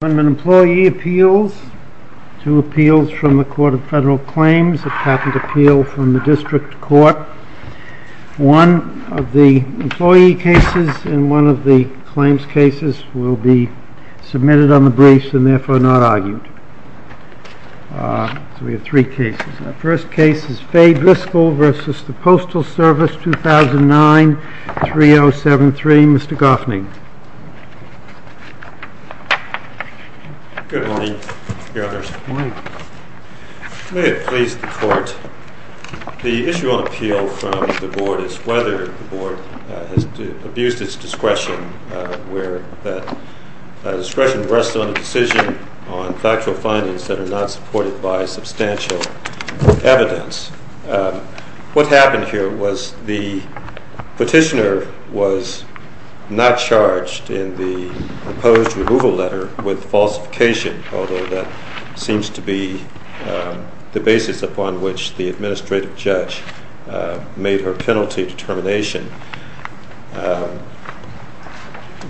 Employee Appeals, two appeals from the Court of Federal Claims, a patent appeal from the District Court. One of the employee cases and one of the claims cases will be submitted on the briefs and therefore not argued. So we have three cases. The first case is Faye Griscoll v. Postal Service, 2009, 3073. Mr. Goffney. Good morning, Your Honors. May it please the Court, the issue on appeal from the Board is whether the Board has abused its discretion where that discretion rests on a decision on factual findings that are not supported by substantial evidence. What happened here was the petitioner was not charged in the proposed removal letter with falsification, although that seems to be the basis upon which the Administrative Judge made her penalty determination.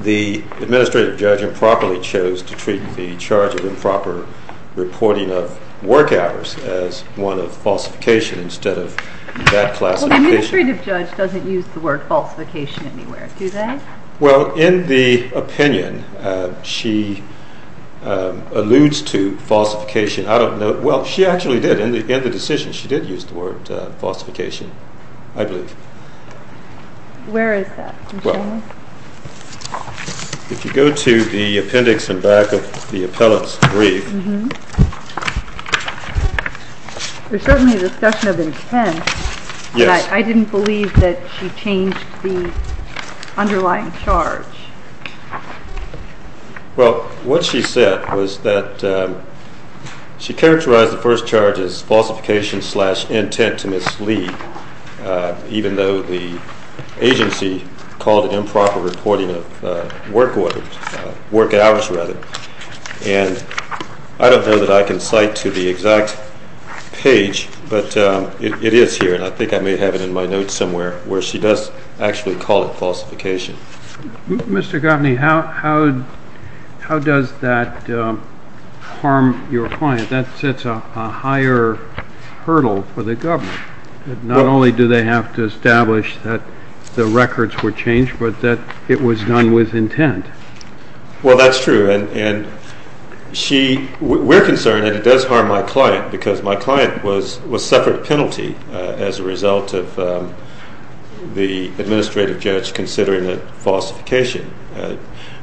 The Administrative Judge improperly chose to treat the charge of improper reporting of work hours as one of falsification instead of bad classification. Well, the Administrative Judge doesn't use the word falsification anywhere, do they? Well, in the opinion, she alludes to falsification. I don't know. Well, she actually did. In the decision, she did use the word falsification, I believe. Where is that? If you go to the appendix in back of the appellant's brief. There's certainly a discussion of intent, but I didn't believe that she changed the underlying charge. Well, what she said was that she characterized the first charge as falsification-slash-intent to mislead, even though the agency called it improper reporting of work hours. And I don't know that I can cite to the exact page, but it is here, and I think I may have it in my notes somewhere, where she does actually call it falsification. Mr. Gaffney, how does that harm your client? That sets a higher hurdle for the government. Not only do they have to establish that the records were changed, but that it was done with intent. Well, that's true, and we're concerned that it does harm my client, because my client was suffered a penalty as a result of the administrative judge considering it falsification.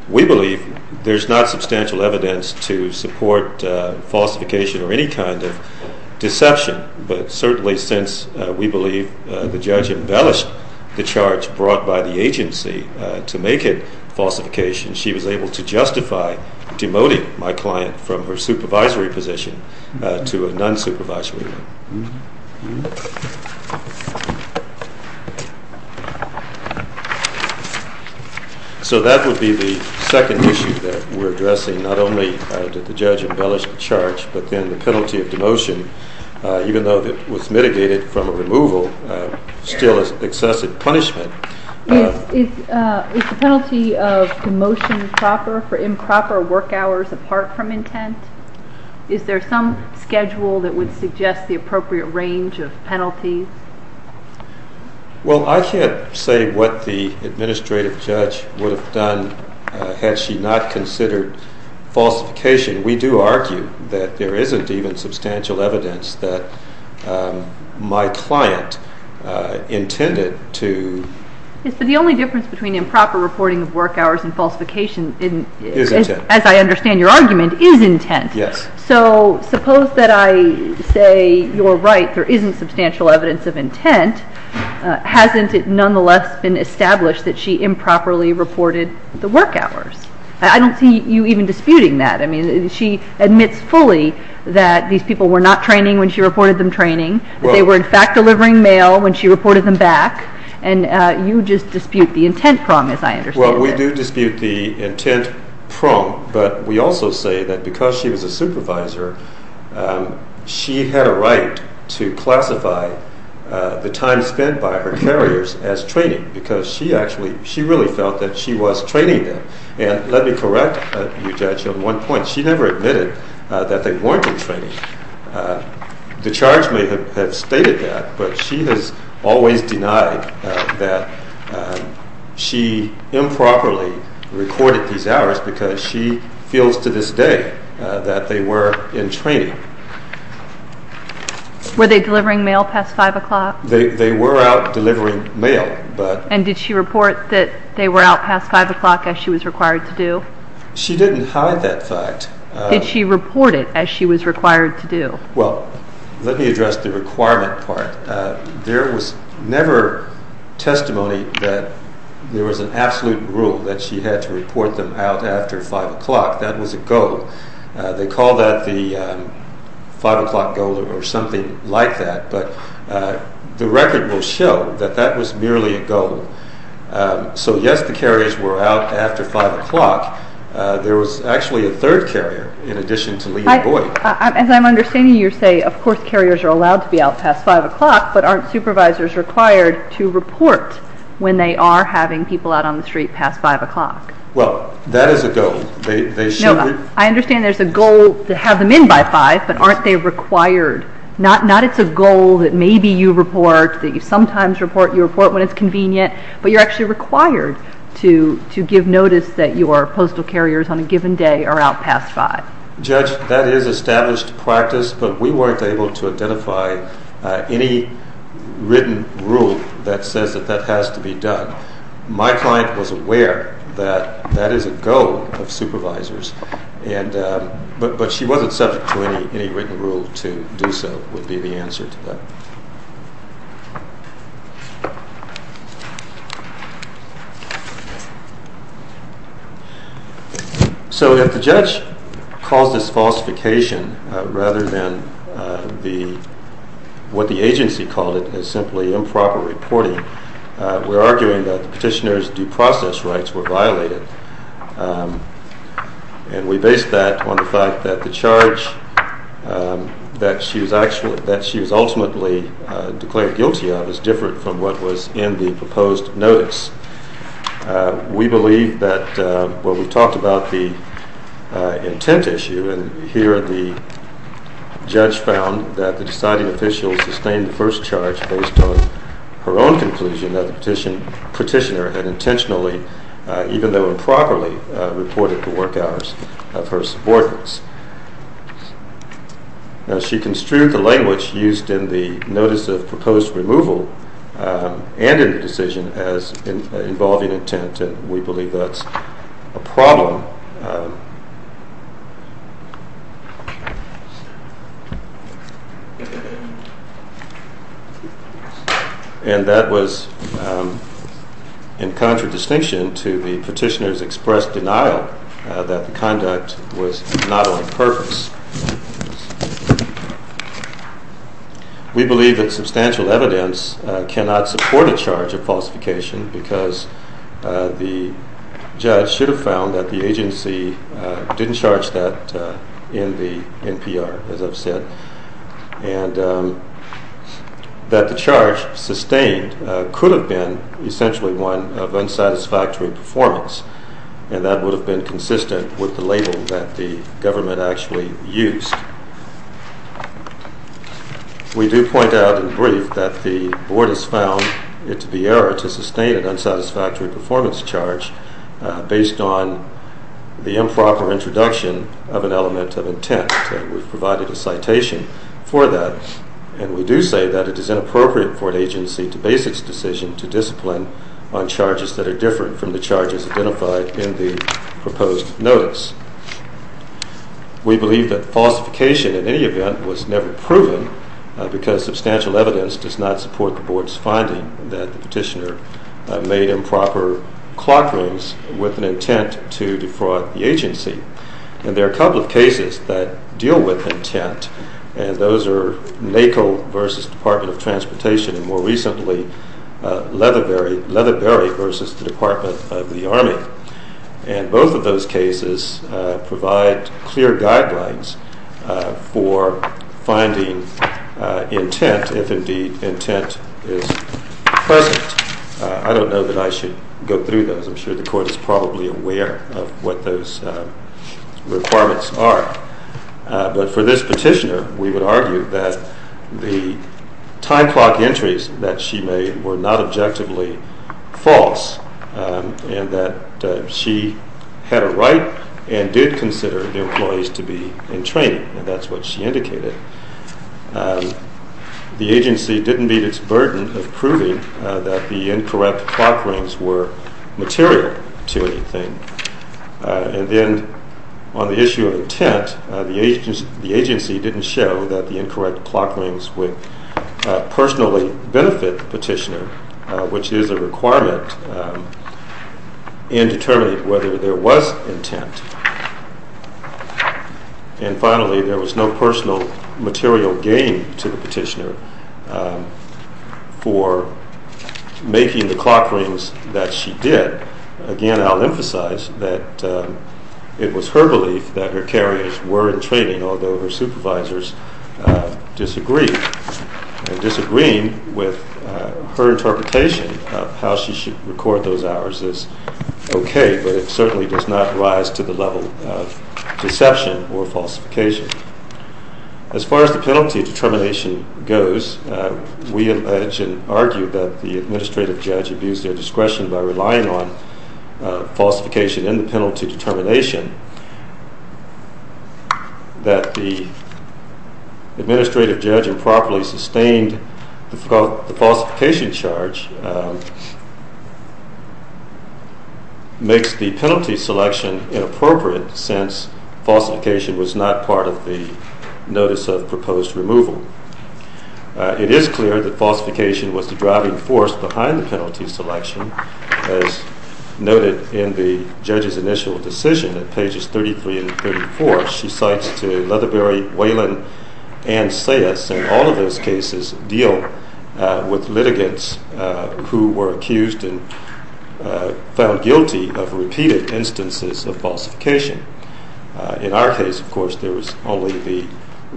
We believe there's not substantial evidence to support falsification or any kind of deception, but certainly since we believe the judge embellished the charge brought by the agency to make it falsification, she was able to justify demoting my client from her supervisory position to a non-supervisory one. So that would be the second issue that we're addressing. Not only did the judge embellish the charge, but then the penalty of demotion, even though it was mitigated from a removal, still is excessive punishment. Is the penalty of demotion proper for improper work hours apart from intent? Is there some schedule that would suggest the appropriate range of penalties? Well, I can't say what the administrative judge would have done had she not considered falsification. We do argue that there isn't even substantial evidence that my client intended to... Yes, but the only difference between improper reporting of work hours and falsification, as I understand your argument, is intent. So suppose that I say you're right, there isn't substantial evidence of intent. Hasn't it nonetheless been established that she improperly reported the work hours? I don't see you even disputing that. I mean, she admits fully that these people were not training when she reported them training, that they were in fact delivering mail when she reported them back, and you just dispute the intent promise, I understand. Well, we do dispute the intent promise, but we also say that because she was a supervisor, she had a right to classify the time spent by her carriers as training, because she really felt that she was training them. And let me correct you, Judge, on one point. She never admitted that they weren't in training. The charge may have stated that, but she has always denied that she improperly recorded these hours because she feels to this day that they were in training. Were they delivering mail past 5 o'clock? They were out delivering mail, but... And did she report that they were out past 5 o'clock as she was required to do? She didn't hide that fact. Did she report it as she was required to do? Well, let me address the requirement part. There was never testimony that there was an absolute rule that she had to report them out after 5 o'clock. That was a goal. They call that the 5 o'clock goal or something like that, but the record will show that that was merely a goal. So yes, the carriers were out after 5 o'clock. There was actually a third carrier in addition to Lee and Boyd. As I'm understanding you say, of course carriers are allowed to be out past 5 o'clock, but aren't supervisors required to report when they are having people out on the street past 5 o'clock? Well, that is a goal. No, I understand there's a goal to have them in by 5, but aren't they required? Not it's a goal that maybe you report, that you sometimes report, you report when it's convenient, but you're actually required to give notice that your postal carriers on a given day are out past 5. Judge, that is established practice, but we weren't able to identify any written rule that says that that has to be done. My client was aware that that is a goal of supervisors, but she wasn't subject to any written rule to do so would be the answer to that. So if the judge calls this falsification, rather than what the agency called it as simply improper reporting, we're arguing that the petitioner's due process rights were violated. And we base that on the fact that the charge that she was ultimately declared guilty of is different from what was in the proposed notice. We believe that, well we talked about the intent issue, and here the judge found that the deciding official sustained the first charge based on her own conclusion that the petitioner had intentionally, even though improperly, reported the work hours of her subordinates. Now she construed the language used in the notice of proposed removal and in the decision as involving intent, and we believe that's a problem. And that was in contradistinction to the petitioner's expressed denial that the conduct was not on purpose. We believe that substantial evidence cannot support a charge of falsification because the judge should have found that the agency had intentionally didn't charge that in the NPR, as I've said, and that the charge sustained could have been essentially one of unsatisfactory performance, and that would have been consistent with the label that the government actually used. We do point out in brief that the Board has found it to be error to sustain an unsatisfactory performance charge based on the improper introduction of an element of intent, and we've provided a citation for that. And we do say that it is inappropriate for an agency to base its decision to discipline on charges that are different from the charges identified in the proposed notice. We believe that falsification in any event was never proven because substantial evidence does not support the Board's finding that the petitioner made improper clock rings with an intent to defraud the agency. And there are a couple of cases that deal with intent, and those are NACO versus Department of Transportation, and more recently, Leatherbury versus the Department of the Army. And both of those cases provide clear guidelines for finding intent if indeed intent is present. I don't know that I should go through those. I'm sure the Court is probably aware of what those requirements are. But for this petitioner, we would argue that the time clock entries that she made were not objectively false, and that she had a right and did consider the employees to be in training, and that's what she indicated. The agency didn't meet its burden of proving that the incorrect clock rings were material to anything. And then on the issue of intent, the agency didn't show that the incorrect clock rings would personally benefit the petitioner, which is a requirement, and determined whether there was intent. And finally, there was no personal material gain to the petitioner for making the clock rings that she did. Again, I'll emphasize that it was her belief that her carriers were in training, although her supervisors disagreed. And disagreeing with her interpretation of how she should record those hours is okay, but it certainly does not rise to the level of deception or falsification. As far as the penalty determination goes, we allege and argue that the administrative judge abused their discretion by relying on falsification in the penalty determination, that the administrative judge improperly sustained the falsification charge and makes the penalty selection inappropriate since falsification was not part of the notice of proposed removal. It is clear that falsification was the driving force behind the penalty selection, as noted in the judge's initial decision at pages 33 and 34. She cites to Leatherbury, Whelan, and Sayess in all of those cases deal with litigants who were accused and found guilty of repeated instances of falsification. In our case, of course, there was only the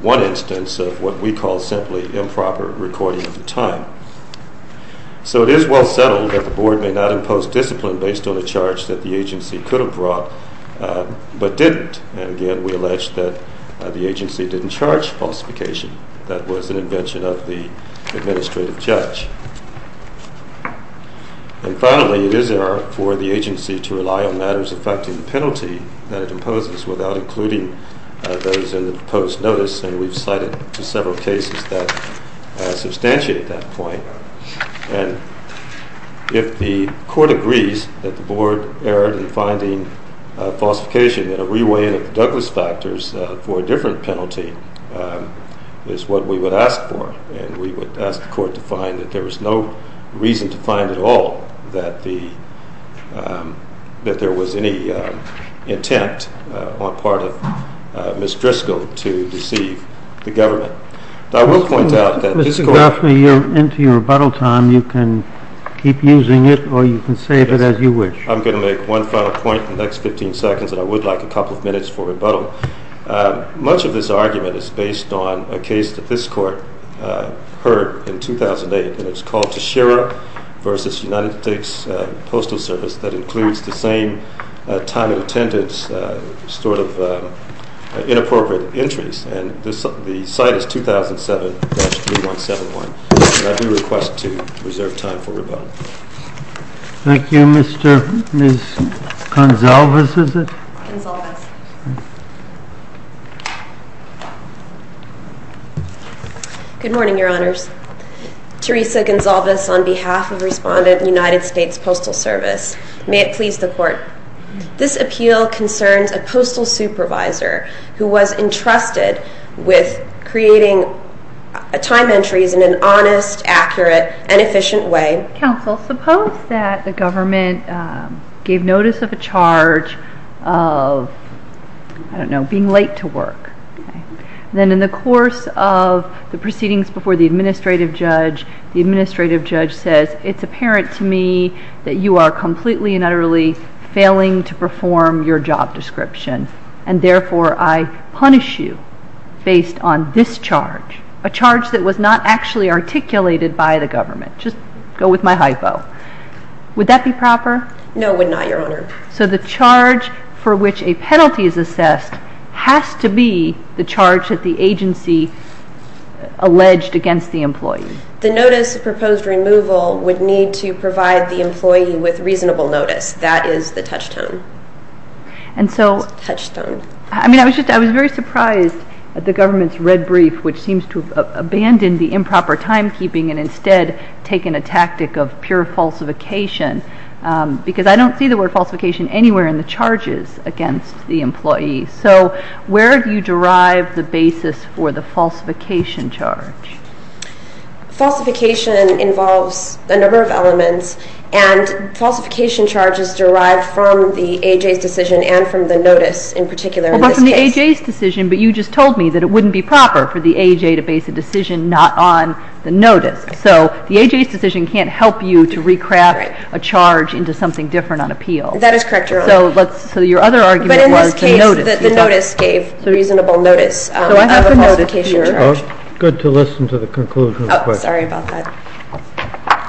one instance of what we call simply improper recording of the time. So it is well settled that the Board may not impose discipline based on a charge that the agency could have brought but didn't. And again, we allege that the agency didn't charge falsification. That was an invention of the administrative judge. And finally, it is error for the agency to rely on matters affecting the penalty that it imposes without including those in the proposed notice, and we've cited several cases that substantiate that point. And if the Court agrees that the Board erred in finding falsification in a re-weighing of the Douglas factors for a different penalty, it's what we would ask for. And we would ask the Court to find that there was no reason to find at all that there was any intent on part of Ms. Driscoll to deceive the government. Now I will point out that this Court... Mr. Gaffney, you're into your rebuttal time. You can keep using it or you can save it as you wish. I'm going to make one final point in the next 15 seconds and I would like a couple of minutes for rebuttal. Much of this argument is based on a case that this Court heard in 2008 and it's called Tashira v. United States Postal Service that includes the same time of attendance, sort of inappropriate entries. And the site is 2007-3171. And I do request to reserve time for rebuttal. Thank you. Ms. Gonsalves, is it? Gonsalves. Good morning, Your Honors. Teresa Gonsalves on behalf of Respondent United States Postal Service. May it please the Court. This appeal concerns a postal supervisor who was entrusted with creating time entries in an honest, accurate, and efficient way. Counsel, suppose that the government gave notice of a charge of, I don't know, being late to work. Then in the course of the proceedings before the administrative judge, the administrative judge says, it's apparent to me that you are completely and utterly failing to perform your job description and therefore I punish you based on this charge, a charge that was not actually articulated by the government. Just go with my hypo. Would that be proper? No, it would not, Your Honor. So the charge for which a penalty is assessed has to be the charge that the agency alleged against the employee. The notice of proposed removal would need to provide the employee with reasonable notice. That is the touchstone. And so, Touchstone. I mean, I was very surprised at the government's red brief, which seems to have abandoned the improper timekeeping and instead taken a tactic of pure falsification because I don't see the word falsification anywhere in the charges against the employee. So where do you derive the basis for the falsification charge? Falsification involves a number of elements and falsification charges derive from the AJ's decision and from the notice in particular. Well, but from the AJ's decision, but you just told me that it wouldn't be proper for the AJ to base a decision not on the notice. So the AJ's decision can't help you to recraft a charge into something different on appeal. That is correct, Your Honor. So your other argument was the notice. But in this case, the notice gave reasonable notice of a falsification charge. Good to listen to the conclusion of the question. Oh, sorry about that.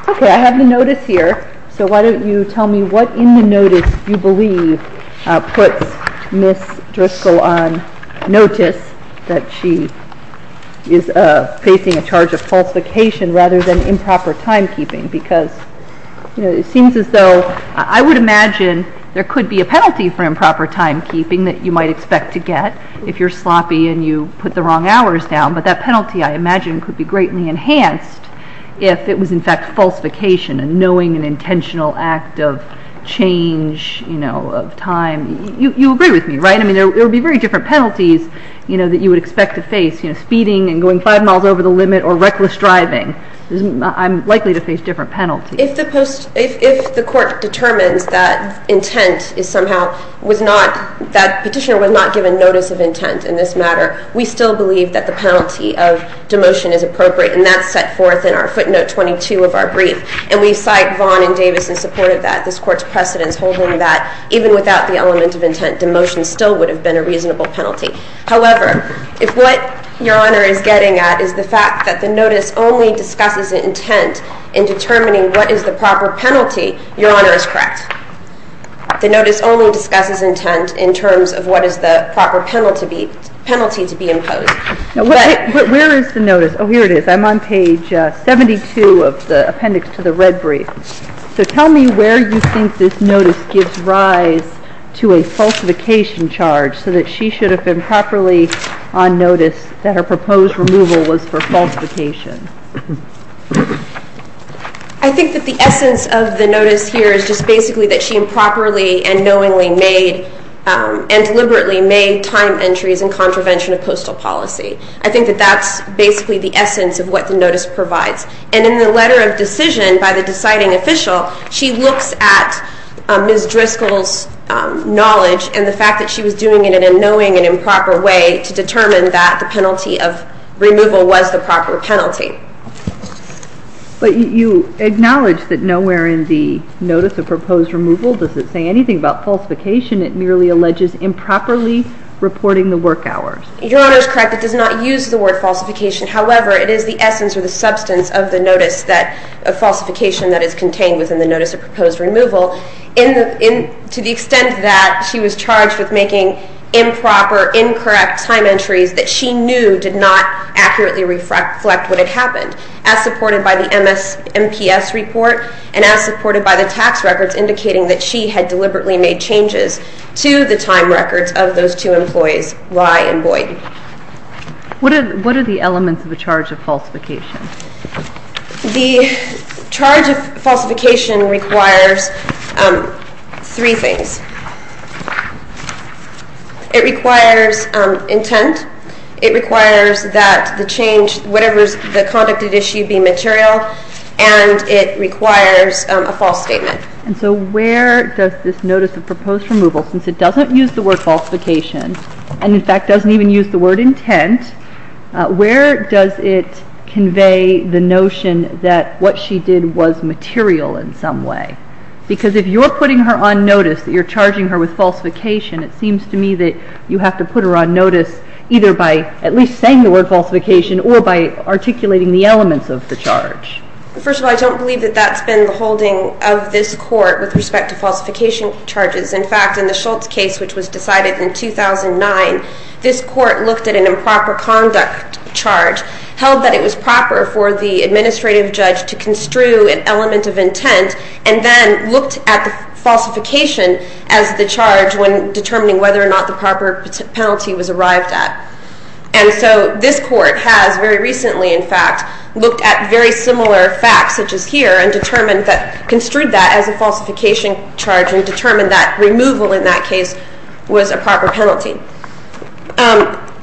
Okay, I have the notice here. So why don't you tell me what in the notice you believe puts Ms. Driscoll on notice that she is facing a charge of falsification rather than improper timekeeping because it seems as though I would imagine there could be a penalty for improper timekeeping that you might expect to get if you're sloppy and you put the wrong hours down. But that penalty, I imagine, could be greatly enhanced if it was in fact falsification and knowing an intentional act of change of time. You agree with me, right? It would be very different penalties that you would expect to face. Speeding and going five miles over the limit or reckless driving. I'm likely to face different penalties. If the court determines that intent is somehow that petitioner was not given notice of intent in this matter, we still believe that the penalty of demotion is appropriate. And that's set forth in our footnote 22 of our brief. And we cite Vaughn and Davis in support of that, this Court's precedence holding that even without the element of intent, demotion still would have been a reasonable penalty. However, if what Your Honor is getting at is the fact that the notice only discusses intent in determining what is the proper penalty, Your Honor is correct. The notice only discusses intent in terms of what is the proper penalty to be imposed. Where is the notice? Oh, here it is. I'm on page 72 of the appendix to the red brief. So tell me where you think this notice gives rise to a falsification charge so that she should have been properly on notice that her proposed removal was for falsification. I think that the essence of the notice here is just basically that she improperly and knowingly made and deliberately made time entries in contravention of postal policy. I think that that's basically the essence of what the notice provides. And in the letter of decision by the deciding official, she looks at Ms. Driscoll's knowledge and the fact that she was doing it in a knowing and improper way to determine that the penalty of removal was the proper penalty. But you acknowledge that nowhere in the notice of proposed removal does it say anything about falsification. It merely alleges improperly reporting the work hours. Your Honor is correct. It does not use the word falsification. However, it is the essence or the substance of the notice of falsification that is contained within the notice of proposed removal to the extent that she was charged with making improper, incorrect time entries that she knew did not accurately reflect what had happened, as supported by the MSNPS report and as supported by the tax records indicating that she had deliberately made changes to the time records of those two employees, Rye and Boyden. What are the elements of a charge of falsification? The charge of falsification requires three things. It requires intent. It requires that the change, whatever the conduct at issue, be material. And it requires a false statement. And so where does this notice of proposed removal, since it doesn't use the word falsification and in fact doesn't even use the word intent, where does it convey the notion that what she did was material in some way? Because if you're putting her on notice that you're charging her with falsification, it seems to me that you have to put her on notice either by at least saying the word falsification or by articulating the elements of the charge. First of all, I don't believe that that's been the holding of this court with respect to falsification charges. In fact, in the Schultz case, which was decided in 2009, this court looked at an improper conduct charge, held that it was proper for the administrative judge to construe an element of intent and then looked at the falsification as the charge when determining whether or not the proper penalty was arrived at. And so this court has very recently, in fact, looked at very similar facts such as here and determined that...construed that as a falsification charge and determined that removal in that case was a proper penalty.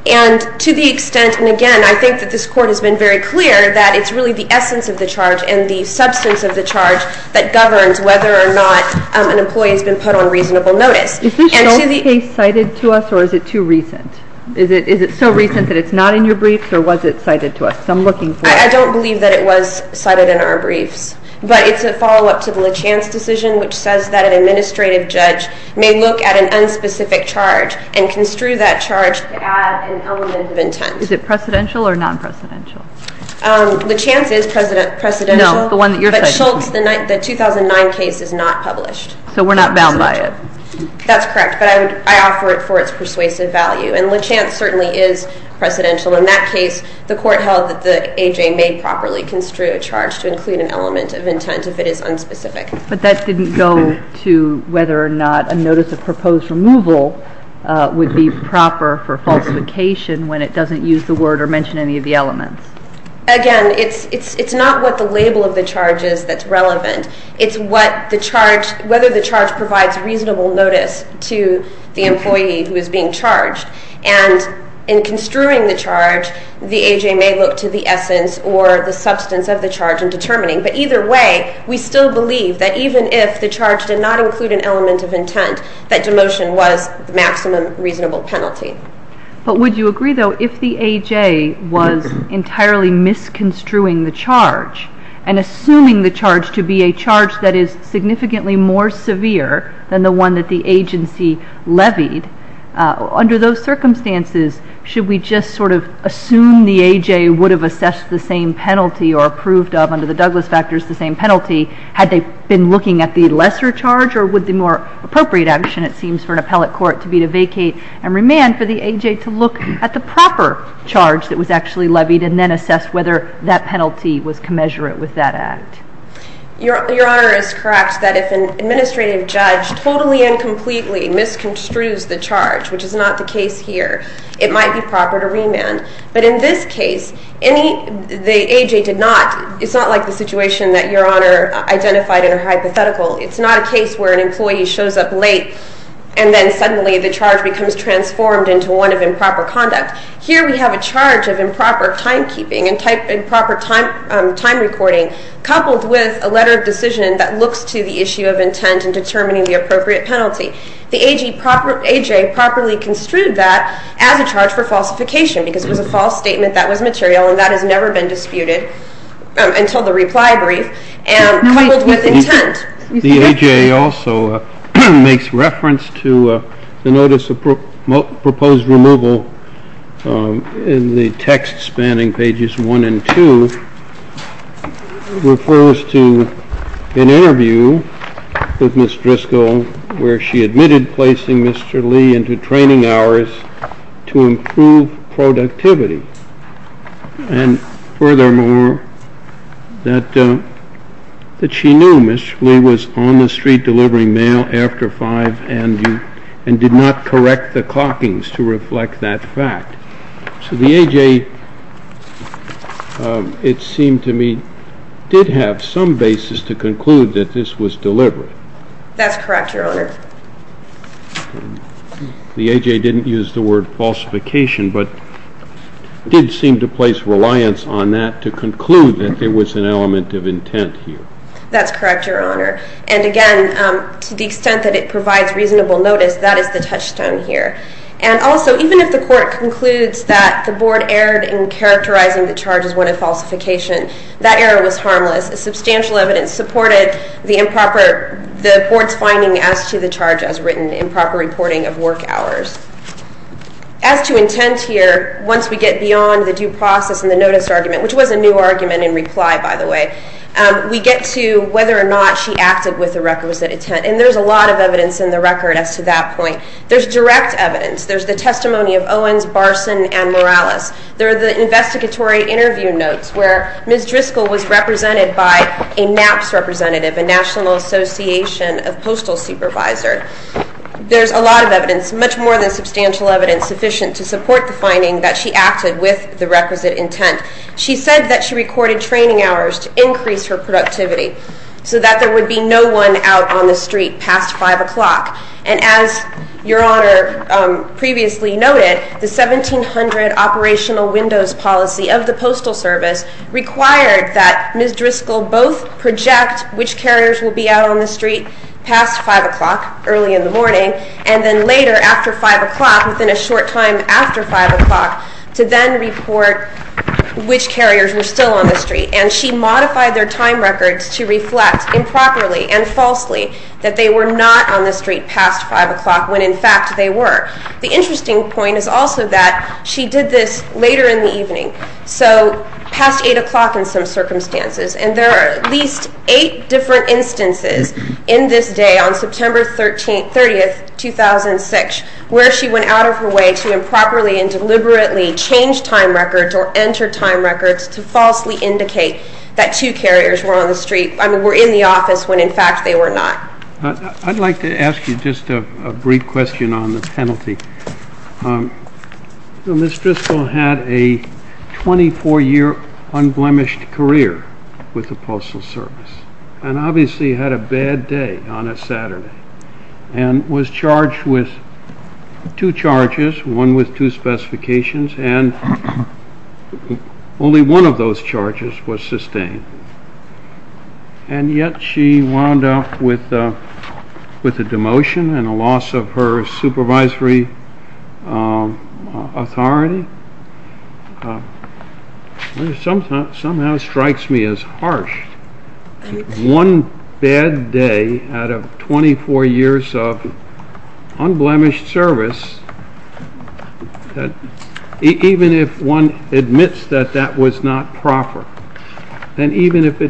And to the extent, and again, I think that this court has been very clear that it's really the essence of the charge and the substance of the charge that governs whether or not an employee has been put on reasonable notice. Is this Schultz case cited to us or is it too recent? Is it so recent that it's not in your briefs or was it cited to us? I don't believe that it was cited in our briefs, but it's a follow-up to the LeChance decision, which says that an administrative judge may look at an unspecific charge and construe that charge to add an element of intent. Is it precedential or non-precedential? LeChance is precedential. No, the one that you're citing. But Schultz, the 2009 case, is not published. So we're not bound by it. That's correct, but I offer it for its persuasive value. And LeChance certainly is precedential. In that case, the court held that the AJ may properly construe a charge to include an element of intent if it is unspecific. But that didn't go to whether or not a notice of proposed removal would be proper for falsification when it doesn't use the word or mention any of the elements. Again, it's not what the label of the charge is that's relevant. It's whether the charge provides reasonable notice to the employee who is being charged. And in construing the charge, the AJ may look to the essence or the substance of the charge in determining. But either way, we still believe that even if the charge did not include an element of intent, that demotion was the maximum reasonable penalty. But would you agree, though, if the AJ was entirely misconstruing the charge and assuming the charge to be a charge that is significantly more severe than the one that the agency levied, under those circumstances, should we just sort of assume the AJ would have assessed the same penalty or approved of under the Douglas factors the same penalty had they been looking at the lesser charge? Or would the more appropriate action, it seems, for an appellate court to be to vacate and remand for the AJ to look at the proper charge that was actually levied and then assess whether that penalty was commensurate with that act? Your Honor is correct that if an administrative judge totally and completely misconstrues the charge, which is not the case here, it might be proper to remand. But in this case, the AJ did not. It's not like the situation that Your Honor identified in a hypothetical. It's not a case where an employee shows up late and then suddenly the charge becomes transformed into one of improper conduct. Here we have a charge of improper timekeeping and improper time recording coupled with a letter of decision that looks to the issue of intent in determining the appropriate penalty. The AJ properly construed that as a charge for falsification because it was a false statement that was material and that has never been disputed until the reply brief and coupled with intent. The AJ also makes reference to the notice of proposed removal in the text spanning pages 1 and 2 refers to an interview with Ms. Driscoll where she admitted placing Mr. Lee into training hours to improve productivity and furthermore that she knew Mr. Lee was on the street delivering mail after 5 and did not correct the clockings to reflect that fact. So the AJ, it seemed to me, did have some basis to conclude that this was deliberate. That's correct, Your Honor. The AJ didn't use the word falsification but did seem to place reliance on that to conclude that there was an element of intent here. That's correct, Your Honor. And again, to the extent that it provides reasonable notice that is the touchstone here. And also, even if the Court concludes that the Board erred in characterizing the charge as one of falsification that error was harmless. Substantial evidence supported the Board's finding as to the charge as written improper reporting of work hours. As to intent here, once we get beyond the due process and the notice argument which was a new argument in reply, by the way we get to whether or not she acted with the requisite intent and there's a lot of evidence in the record as to that point. There's direct evidence. There's the testimony of Owens, Barson, and Morales. There are the investigatory interview notes where Ms. Driscoll was represented by a NAPPS representative, a National Association of Postal Supervisors. There's a lot of evidence, much more than substantial evidence sufficient to support the finding that she acted with the requisite intent. She said that she recorded training hours to increase her productivity so that there would be no one out on the street past 5 o'clock. And as Your Honor previously noted, the 1700 operational windows policy of the Postal Service required that Ms. Driscoll both project which carriers will be out on the street past 5 o'clock early in the morning and then later after 5 o'clock, within a short time after 5 o'clock to then report which carriers were still on the street. And she modified their time records to reflect improperly and falsely that they were not on the street past 5 o'clock The interesting point is also that she did this later in the evening. So past 8 o'clock in some circumstances. And there are at least 8 different instances in this day on September 30, 2006 where she went out of her way to improperly and deliberately change time records or enter time records to falsely indicate that 2 carriers were on the street I mean were in the office when in fact they were not. I'd like to ask you just a brief question on the penalty. Ms. Driscoll had a 24 year unblemished career with the Postal Service and obviously had a bad day on a Saturday and was charged with 2 charges one with 2 specifications and only one of those charges was sustained. And yet she wound up with a demotion and a loss of her supervisory authority which somehow strikes me as harsh. One bad day out of 24 years of unblemished service even if one admits that that was not proper and even if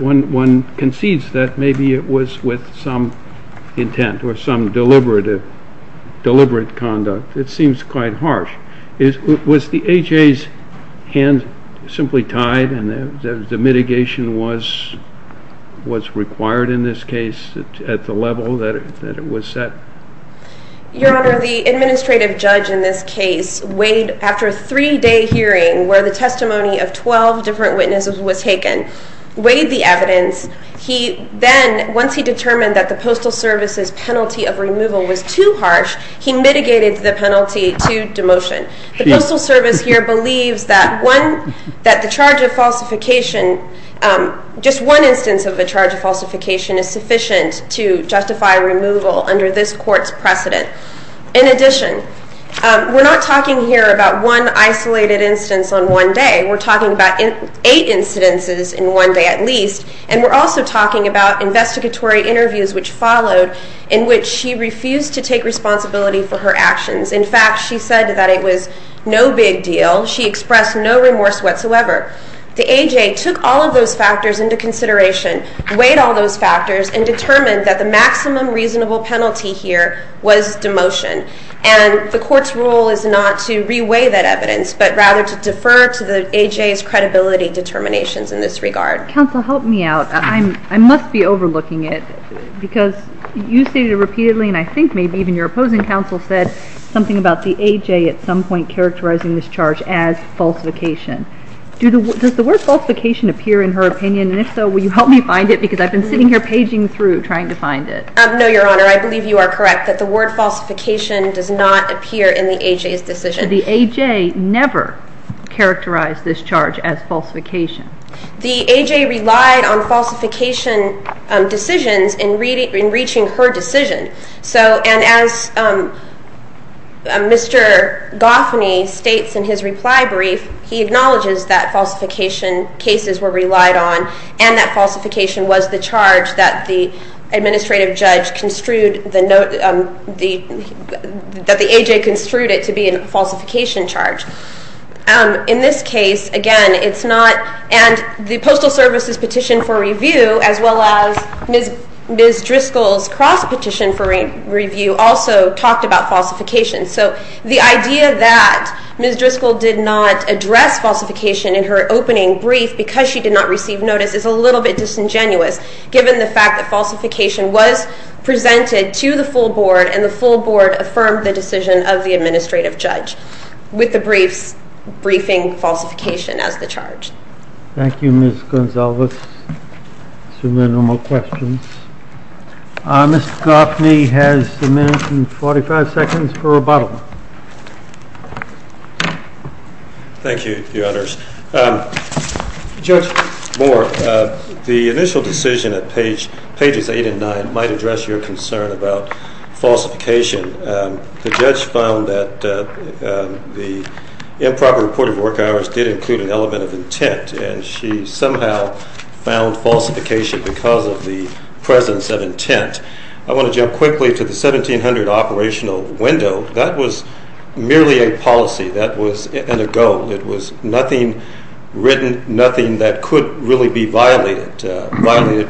one concedes that maybe it was with some intent or some deliberate conduct. It seems quite harsh. Was the HA's hand simply tied and the mitigation was required in this case at the level that it was set? Your Honor, the administrative judge in this case weighed after a 3 day hearing where the testimony of 12 different witnesses was taken weighed the evidence he then, once he determined that the Postal Service's penalty of removal was too harsh he mitigated the penalty to demotion. The Postal Service here believes that the charge of falsification just one instance of a charge of falsification is sufficient to justify removal under this court's precedent. In addition, we're not talking here about one isolated instance on one day we're talking about 8 incidences in one day at least and we're also talking about investigatory interviews which followed in which she refused to take responsibility for her actions. In fact, she said that it was no big deal she expressed no remorse whatsoever. The AJ took all of those factors into consideration weighed all those factors and determined that the maximum reasonable penalty here was demotion. And the court's role is not to re-weigh that evidence but rather to defer to the AJ's credibility determinations in this regard. Counsel, help me out. I must be overlooking it because you stated repeatedly and I think maybe even your opposing counsel said something about the AJ at some point characterizing this charge as falsification. Does the word falsification appear in her opinion? And if so, will you help me find it? Because I've been sitting here paging through trying to find it. No, Your Honor, I believe you are correct that the word falsification does not appear in the AJ's decision. The AJ never characterized this charge as falsification. The AJ relied on falsification decisions in reaching her decision. So, and as Mr. Goffney states in his reply brief he acknowledges that falsification cases were relied on and that falsification was the charge that the administrative judge construed that the AJ construed it to be a falsification charge. In this case, again, it's not and the Postal Service's petition for review as well as Ms. Driscoll's cross petition for review also talked about falsification. So the idea that Ms. Driscoll did not address falsification in her opening brief because she did not receive notice is a little bit disingenuous given the fact that falsification was presented to the full board and the full board affirmed the decision of the administrative judge. With the briefs, briefing falsification as the charge. Thank you, Ms. Gonzalez. Some more questions. Mr. Goffney has a minute and 45 seconds for rebuttal. Thank you, Your Honors. Judge Moore, the initial decision at pages 8 and 9 might address your concern about falsification. The judge found that the improper report of work hours did include an element of intent and she somehow found falsification because of the presence of intent. I want to jump quickly to the 1700 operational window. That was merely a policy. That was a goal. It was nothing written, nothing that could really be violated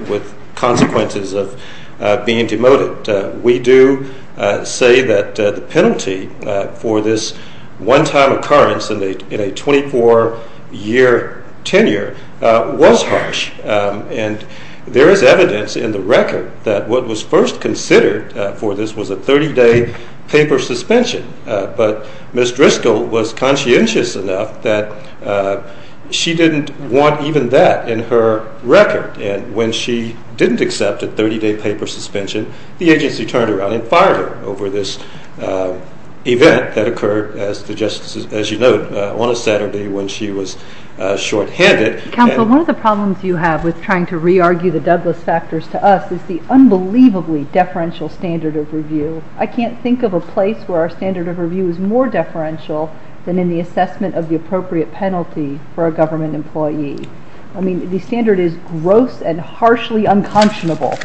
with consequences of being demoted. We do say that the penalty for this one-time occurrence in a 24-year tenure was harsh and there is evidence in the record that what was first considered for this was a 30-day paper suspension, but Ms. Driscoll was conscientious enough that she didn't want even that in her record and when she didn't accept a 30-day paper suspension, the agency turned around and fired her over this event that occurred, as you note, on a Saturday when she was shorthanded. Counsel, one of the problems you have with trying to re-argue the Douglas factors to us is the unbelievably deferential standard of review. I can't think of a place where our standard of review is more deferential than in the assessment of the appropriate penalty for a government employee. I mean, the standard is gross and harshly unconscionable.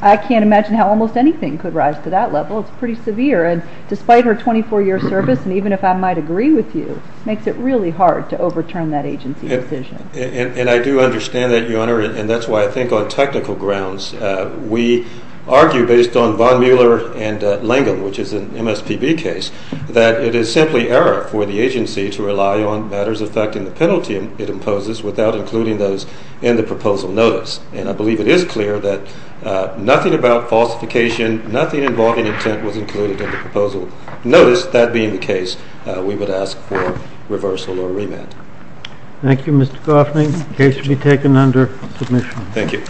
I can't imagine how almost anything could rise to that level. It's pretty severe and despite her 24-year service and even if I might agree with you, it makes it really hard to overturn that agency decision. And I do understand that, Your Honor, and that's why I think on technical grounds we argue based on Von Mueller and Langel, which is an MSPB case, that it is simply error for the agency to rely on matters affecting the penalty it imposes without including those in the proposal notice and I believe it is clear that nothing about falsification, nothing involving intent was included in the proposal notice, that being the case, we would ask for reversal or remand. Thank you, Mr. Goffney. The case will be taken under submission. Thank you.